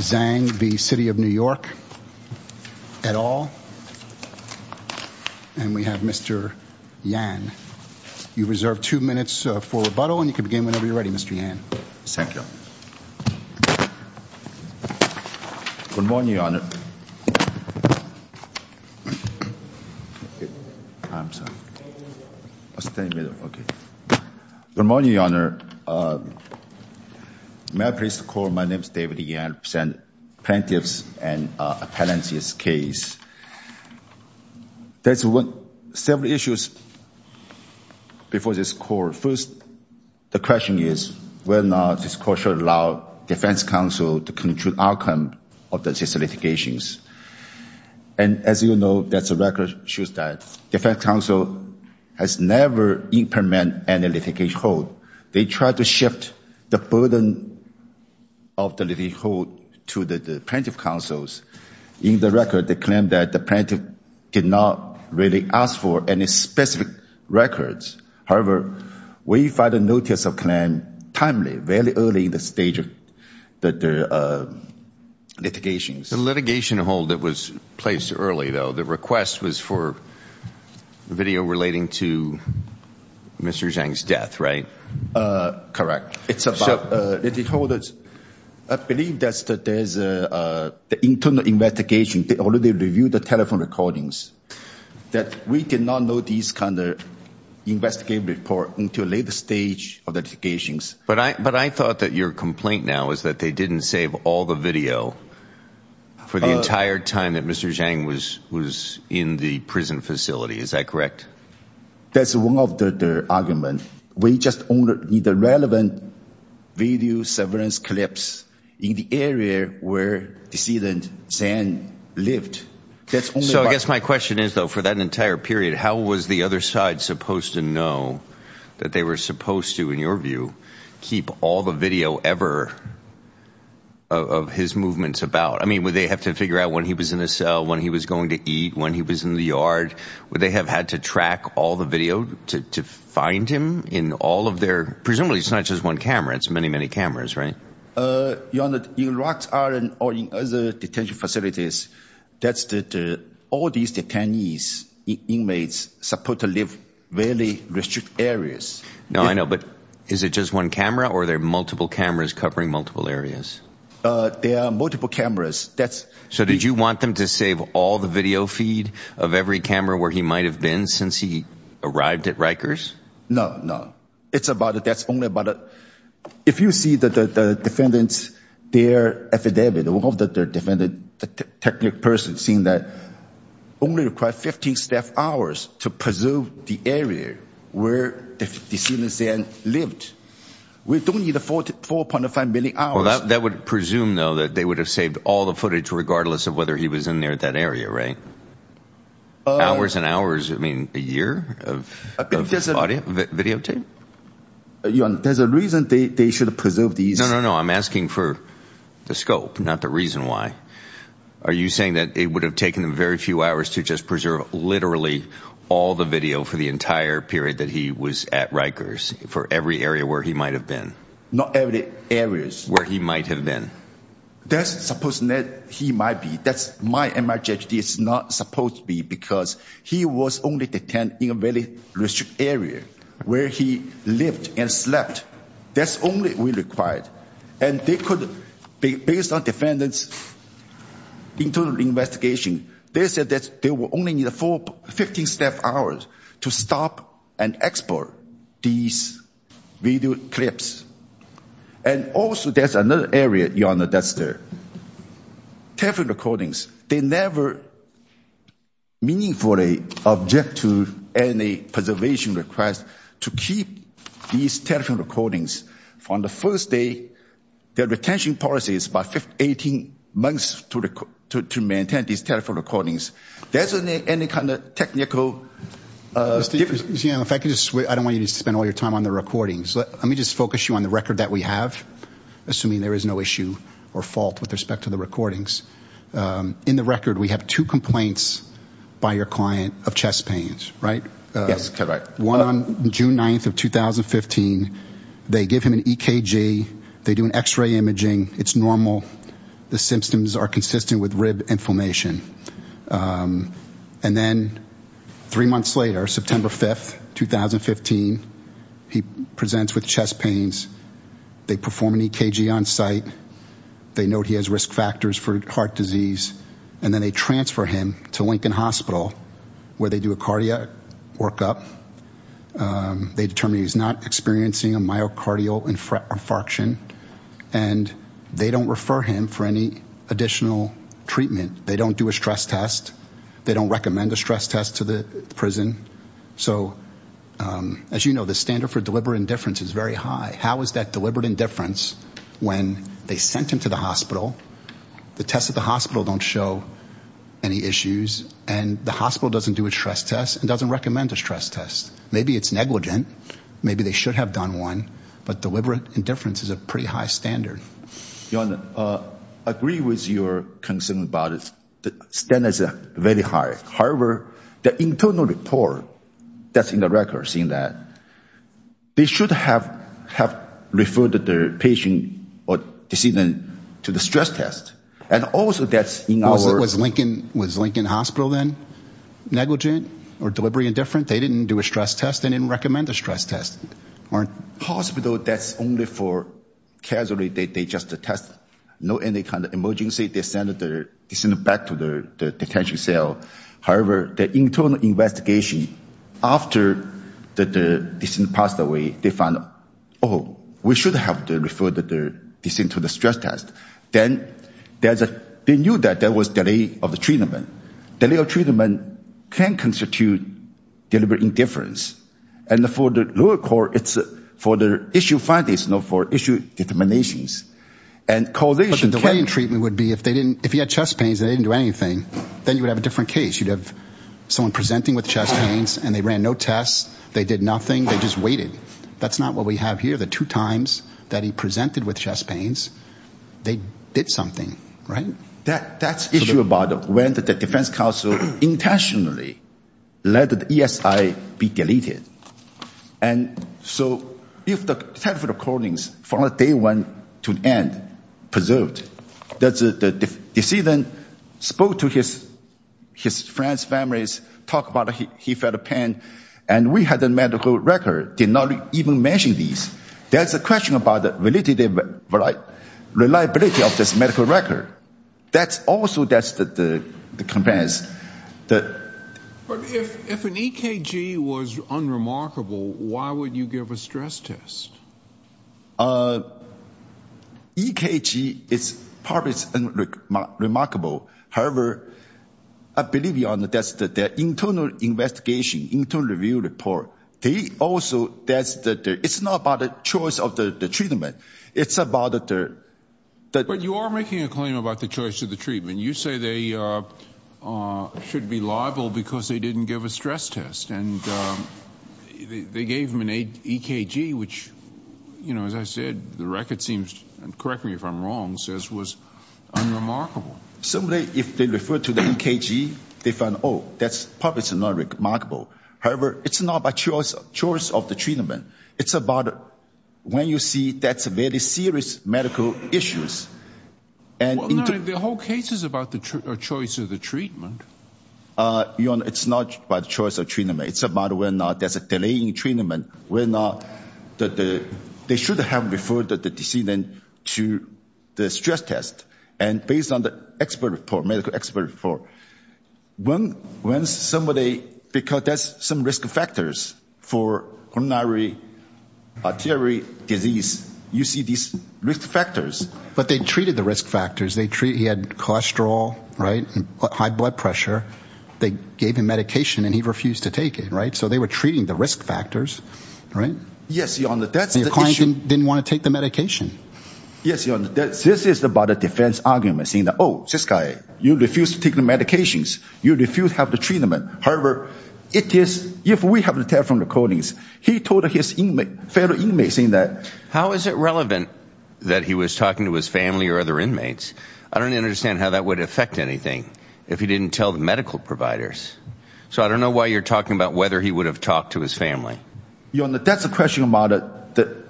et al. And we have Mr. Yan. You reserve two minutes for rebuttal, and you can begin whenever you're ready, Mr. Yan. Thank you. Good morning, Your Honor. I'm sorry. I'll stand in the middle. Okay. Good morning, Your Honor. May I please call, my name is David Yan. I represent plaintiffs in Appellant's case. There's several issues before this court. First, the question is whether or not this court should allow Defense Counsel to conclude outcome of these litigations. And as you know, there's a record shows that Defense Counsel has never implemented any litigation hold. They tried to shift the burden of the litigation hold to the plaintiff counsels. In the record, they claim that the plaintiff did not really ask for any specific records. However, we filed a notice of claim timely, very early in the stage of the litigation. The litigation hold that was placed early, though, the request was for video relating to Mr. Zhang's death, right? Correct. It's about the hold. I believe that there's an internal investigation. They already reviewed the telephone recordings that we did not know these kind of investigative report until later stage of the litigations. But I thought that your complaint now is that they didn't save all the video for the entire time that Mr. Zhang was in the prison facility. Is that correct? That's one of the argument. We just only need the relevant video surveillance clips in the area where decedent Zhang lived. So I guess my question is, though, for that entire period, how was the other side supposed to that they were supposed to, in your view, keep all the video ever of his movements about? I mean, would they have to figure out when he was in a cell, when he was going to eat, when he was in the yard? Would they have had to track all the video to find him in all of their... Presumably, it's not just one camera. It's many, many cameras, right? Your Honour, in Rox Island or in other detention facilities, that's all these detainees, inmates, supposed to live in very restricted areas. No, I know. But is it just one camera or are there multiple cameras covering multiple areas? There are multiple cameras. So did you want them to save all the video feed of every camera where he might have been since he arrived at Rikers? No, no. It's about, that's only if you see that the defendants, their affidavit, one of the defendants, the technical person, saying that only required 15 staff hours to preserve the area where the detainee Zhang lived. We don't need 4.5 million hours. Well, that would presume, though, that they would have saved all the footage regardless of whether he was in there at that area, right? Hours and hours, I mean, a year of video tape? Your Honour, there's a reason they should preserve these. No, no, no. I'm asking for the scope, not the reason why. Are you saying that it would have taken them very few hours to just preserve literally all the video for the entire period that he was at Rikers for every area where he might have been? Not every areas. Where he might have been. That's supposed that he might be. That's my MRJD is not supposed to be because he was only detained in a very restricted area where he lived and slept. That's only we required. And they could, based on defendants' internal investigation, they said that they will only need a full 15 staff hours to stop and export these video clips. And also there's another area, Your Honour, that's the telephone recordings. They never meaningfully object to any preservation request to keep these telephone recordings. From the first day, their retention policy is about 18 months to maintain these telephone recordings. There isn't any kind of technical difference. I don't want you to spend all your time on the recordings. Let me just focus you on the record that we have, assuming there is no issue or fault with respect to the recordings. In the record, we have two complaints by your client of chest pains, right? One on June 9th of 2015. They give him an EKG. They do an x-ray imaging. It's normal. The symptoms are consistent with inflammation. And then three months later, September 5th, 2015, he presents with chest pains. They perform an EKG on site. They note he has risk factors for heart disease. And then they transfer him to Lincoln Hospital where they do a cardiac workup. They determine he's not experiencing a myocardial infarction. And they don't refer him for any additional treatment. They don't do a stress test. They don't recommend a stress test to the prison. So, as you know, the standard for deliberate indifference is very high. How is that deliberate indifference when they sent him to the hospital? The tests at the hospital don't show any issues. And the hospital doesn't do a stress test and doesn't recommend a stress test. Maybe it's negligent. Maybe they should have done one. But deliberate indifference is a pretty high standard. Your Honor, I agree with your concern about it. The standards are very high. However, the internal report that's in the records in that, they should have referred the patient or to see them to the stress test. And also that's in our... Was Lincoln Hospital then negligent or deliberate indifference? They didn't do a stress test. They didn't recommend a stress test. Hospital, that's only for casualty. They just test. No any kind of emergency. They send the patient back to the detention cell. However, the internal investigation after the patient passed away, they found, oh, we should have referred the patient to the stress test. Then they knew that there was delay of the treatment. Delay of treatment can constitute deliberate indifference. And for the lower court, it's for the issue findings, not for issue determinations. The way in treatment would be if he had chest pains and they didn't do anything, then you would have a different case. You'd have someone presenting with chest pains and they ran no tests. They did nothing. They just waited. That's not what we have here. The two times that he presented with chest pains, they did something, right? That's the issue about when the defense counsel intentionally let the ESI be deleted. And so if the telephone recordings from day one to end preserved, the decedent spoke to his friends, families, talk about he felt pain, and we had a medical record, did not even mention this. There's a question about the reliability of this medical record. That's also the complaints. But if an EKG was unremarkable, why would you give a stress test? EKG is probably unremarkable. However, I believe that's the internal investigation, internal review report. It's not about the choice of the treatment. You are making a claim about the choice of the treatment. You say they should be liable because they didn't give a stress test. And they gave him an EKG, which, you know, as I said, the record seems, and correct me if I'm wrong, says was unremarkable. Similarly, if they refer to the EKG, they find, oh, that's probably unremarkable. However, it's not by choice of the treatment. It's about when you see that's a very serious medical issues. The whole case is about the choice of the treatment. Your Honor, it's not by the choice of treatment. It's about whether or not there's a delay in treatment, whether or not they should have referred the decedent to the stress test. And based on the medical expert report, when somebody, because there's some risk factors for coronary arterial disease, you see these risk factors. But they treated the risk factors. He had cholesterol, right, high blood pressure. They gave him medication and he refused to take it, right? So they were treating the risk factors, right? Yes, Your Honor, that's the issue. Your client didn't want to take the medication. Yes, Your Honor, this is about a defense argument saying, oh, this guy, you refuse to take the medications. You refuse to have the treatment. However, if we have the telephone recordings, he told his fellow inmates saying that. How is it relevant that he was talking to his family or other inmates? I don't understand how that would affect anything if he didn't tell the medical providers. So I don't know why you're talking about whether he would have talked to his family. Your Honor, that's a question about the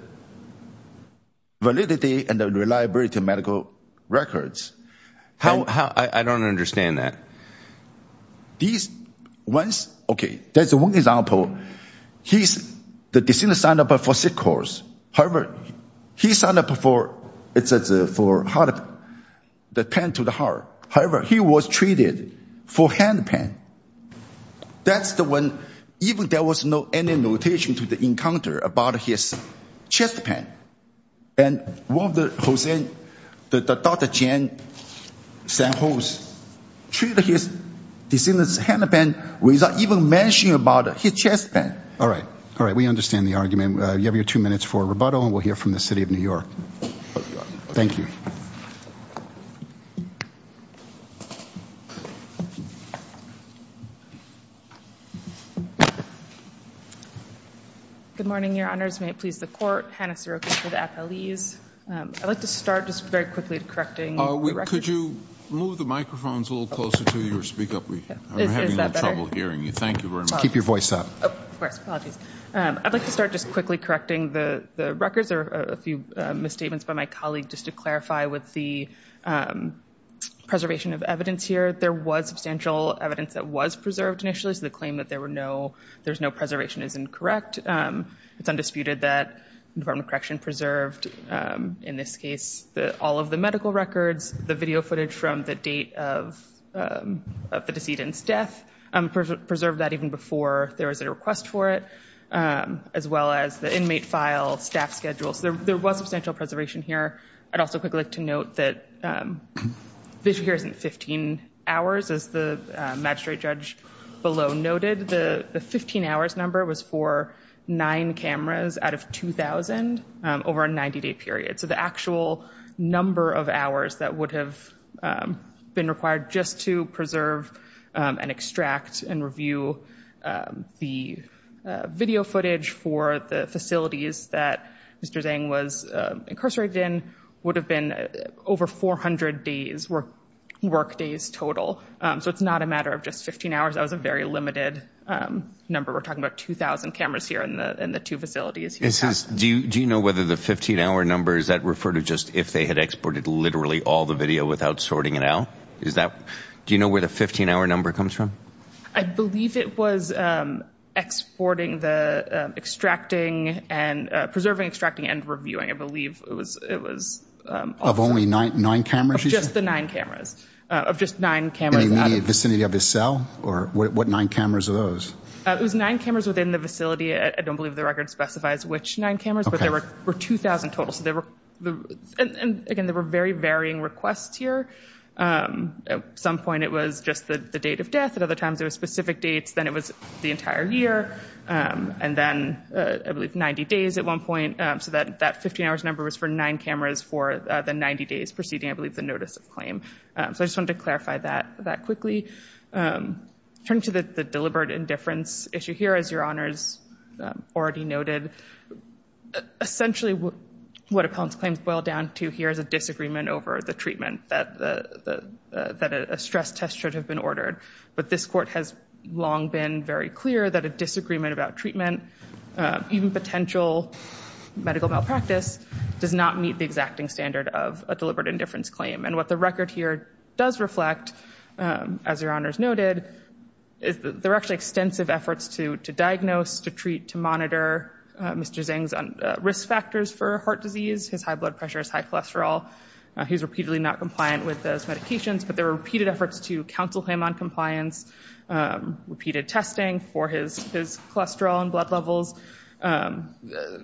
validity and the reliability of medical records. I don't understand that. These ones, okay, that's one example. He's, the decedent signed up for sick course. However, he signed up for the pen to the heart. However, he was treated for hand pain. That's the one, even there was no any notation to the encounter about his chest pain. And one of the Jose, the Dr. Jan San Jose, treated his decedent's hand pain without even mentioning about his chest pain. All right. All right. We understand the argument. You have your two minutes for rebuttal and we'll hear from the city of New York. Thank you. Good morning, Your Honors. May it please the court. Hannah Sirocco for the appellees. I'd like to start just very quickly correcting the records. Could you move the microphones a little closer to your speaker? I'm having trouble hearing you. Thank you very much. Keep your voice up. Of course. Apologies. I'd like to start just quickly correcting the records. There are a few misstatements by my colleague just to clarify with the preservation of evidence here. There was substantial evidence that was preserved initially, so the claim that there's no preservation is incorrect. It's undisputed that the Department of Correction preserved, in this case, all of the medical records, the video footage from the date of the decedent's death, preserved that even before there was a request for it, as well as the inmate file, staff schedule. So there was substantial preservation here. I'd also quickly like to note that this here isn't 15 hours. As the magistrate judge below noted, the 15 hours number was for nine cameras out of 2,000 over a 90-day period. So the actual number of hours that would have been required just to preserve and extract and review the video footage for the facilities that Mr. Zhang was incarcerated in would have been over 400 workdays total. So it's not a matter of just 15 hours. That was a very limited number. We're talking about 2,000 cameras here in the two facilities. Do you know whether the 15-hour number, does that refer to just if they had exported literally all the video without sorting it out? Do you know where the 15-hour number comes from? I believe it was exporting the extracting and preserving, extracting, and reviewing. I believe it was. Of only nine cameras? Just the nine cameras. Of just nine cameras. Any vicinity of his cell? Or what nine cameras are those? It was nine cameras within the facility. I don't believe the record specifies which nine cameras, but there were 2,000 total. And again, there were very varying requests here. At some point, it was just the date of death. At other times, there were specific dates. Then it was the entire year. And then, I believe, 90 days at one point. So that 15-hour number was for nine cameras for the 90 days preceding, I believe, the notice of claim. So I just wanted to clarify that quickly. Turning to the deliberate indifference issue here, as Your Honors already noted, essentially what appellant's claims boil down to here is a disagreement over the treatment that a stress test should have been ordered. But this Court has long been very clear that a disagreement about treatment, even potential medical malpractice, does not meet the exacting standard of a deliberate indifference claim. And what the record here does reflect, as Your Honors noted, there are actually extensive efforts to diagnose, to treat, to monitor Mr. Zeng's risk factors for heart disease. His high blood pressure, his high cholesterol. He's repeatedly not compliant with those medications. But there were repeated efforts to counsel him on compliance. Repeated testing for his cholesterol and blood levels.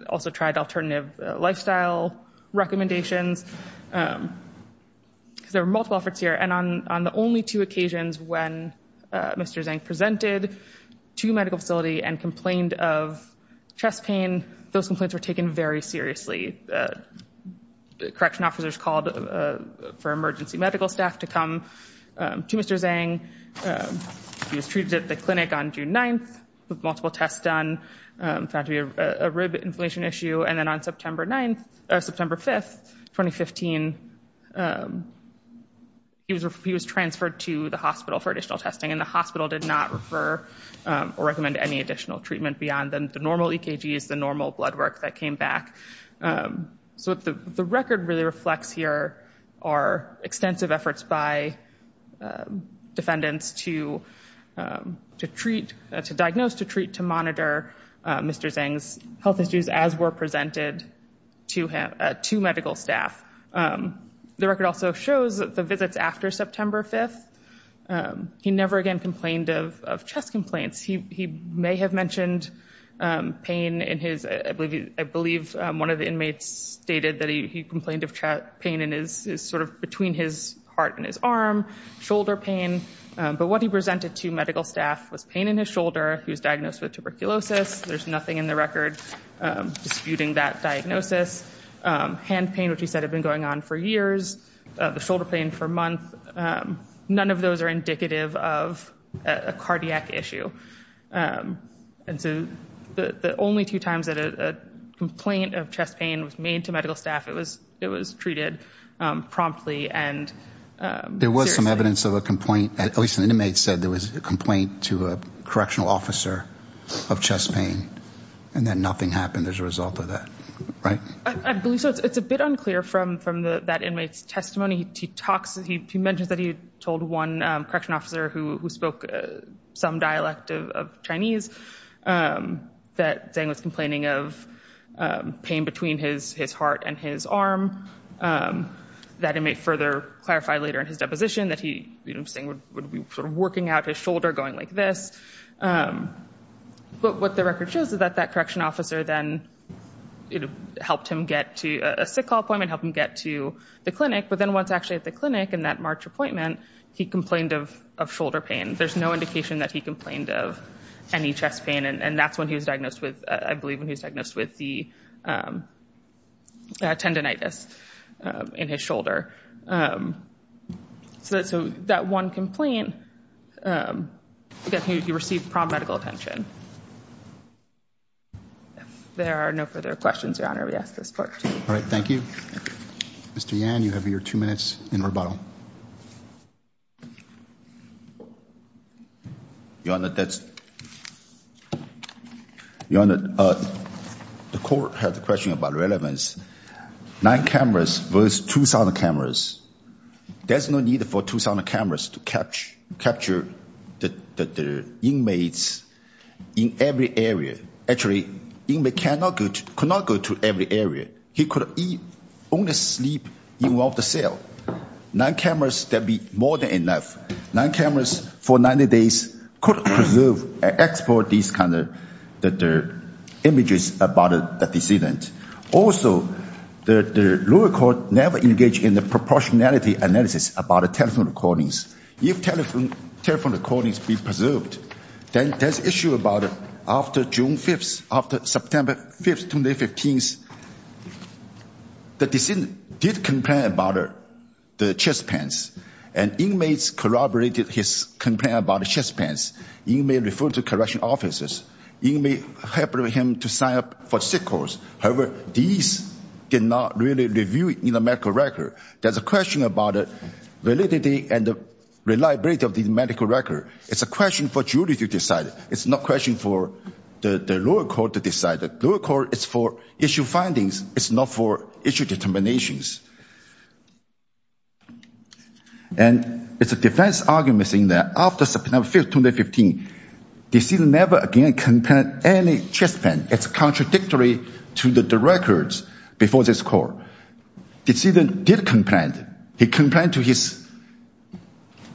Also tried alternative lifestyle recommendations. There were multiple efforts here. And on the only two occasions when Mr. Zeng presented to a medical facility and complained of chest pain, those complaints were taken very seriously. The correction officers called for emergency medical staff to come to Mr. Zeng. He was treated at the clinic on June 9th with multiple tests done. Found to be a rib inflammation issue. And then on September 9th, or September 5th, 2015, he was transferred to the hospital for additional testing. And the hospital did not refer or recommend any additional treatment beyond the normal EKGs, the normal blood work that came back. So the record really reflects here our extensive efforts by defendants to treat, to diagnose, to treat, to monitor Mr. Zeng's health issues as were presented to medical staff. The record also shows that the visits after September 5th, he never again complained of chest complaints. He may have mentioned pain in his, I believe, one of the inmates stated that he complained of pain in his, sort of between his heart and his arm, shoulder pain. But what he presented to medical staff was pain in his shoulder. He was diagnosed with tuberculosis. There's nothing in the record disputing that diagnosis. Hand pain, which he said had been going on for years. The shoulder pain for a month. None of those are indicative of a cardiac issue. And so the only two times that a complaint of chest pain was made to medical staff, it was treated promptly and seriously. There was some evidence of a complaint, at least an inmate said there was a complaint to a correctional officer of chest pain. And then nothing happened as a result of that, right? I believe so. It's a bit unclear from that inmate's testimony. He mentions that he told one correctional officer who spoke some dialect of Chinese that Zhang was complaining of pain between his heart and his arm. That he may further clarify later in his deposition that he would be sort of working out his shoulder going like this. But what the record shows is that that correctional officer then helped him get to a sick call appointment, helped him get to the clinic. But then once actually at the clinic in that March appointment, he complained of shoulder pain. There's no indication that he complained of any chest pain. And that's when he was diagnosed with, I believe when he was diagnosed with the tendinitis in his shoulder. So that one complaint, he received prompt medical attention. There are no further questions, Your Honor. We ask for support. All right. Thank you. Mr. Yan, you have your two minutes in rebuttal. Your Honor, the court had a question about relevance. Nine cameras versus 2,000 cameras. There's no need for 2,000 cameras to capture the inmates in every area. Actually, the inmate could not go to every area. He could only sleep in one of the cells. Nine cameras, that'd be more than enough. Nine cameras for 90 days could preserve and export these kind of images about the decedent. Also, the lower court never engaged in the proportionality analysis about telephone recordings. If telephone recordings be preserved, then there's issue about after June 5th, after September 5th, 2015, the decedent did complain about the chest pains. And inmates corroborated his complaint about chest pains. He may refer to correctional officers. He may help him to sign up for sick leave. However, these did not really review in the medical record. There's a question about validity and reliability of the medical record. It's a question for jury to decide. It's not a question for the lower court to decide. The lower court is for issue findings. It's not for issue determinations. And it's a defense argument saying that after September 5th, 2015, decedent never again complained any chest pain. It's contradictory to the records before this court. Decedent did complain. He complained to his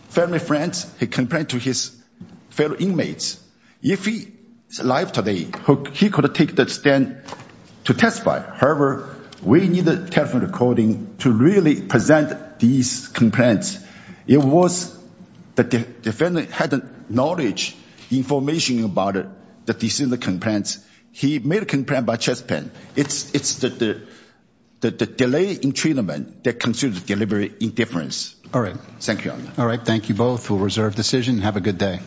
family friends. He complained to his fellow inmates. If he's alive today, he could take the stand to testify. However, we need the telephone recording to really present these complaints. It was the defendant had the knowledge, the information about the decedent's complaints. He made a complaint about chest pain. It's the delay in treatment that constitutes deliberate indifference. All right. Thank you. All right. Thank you both for reserved decision. Have a good day.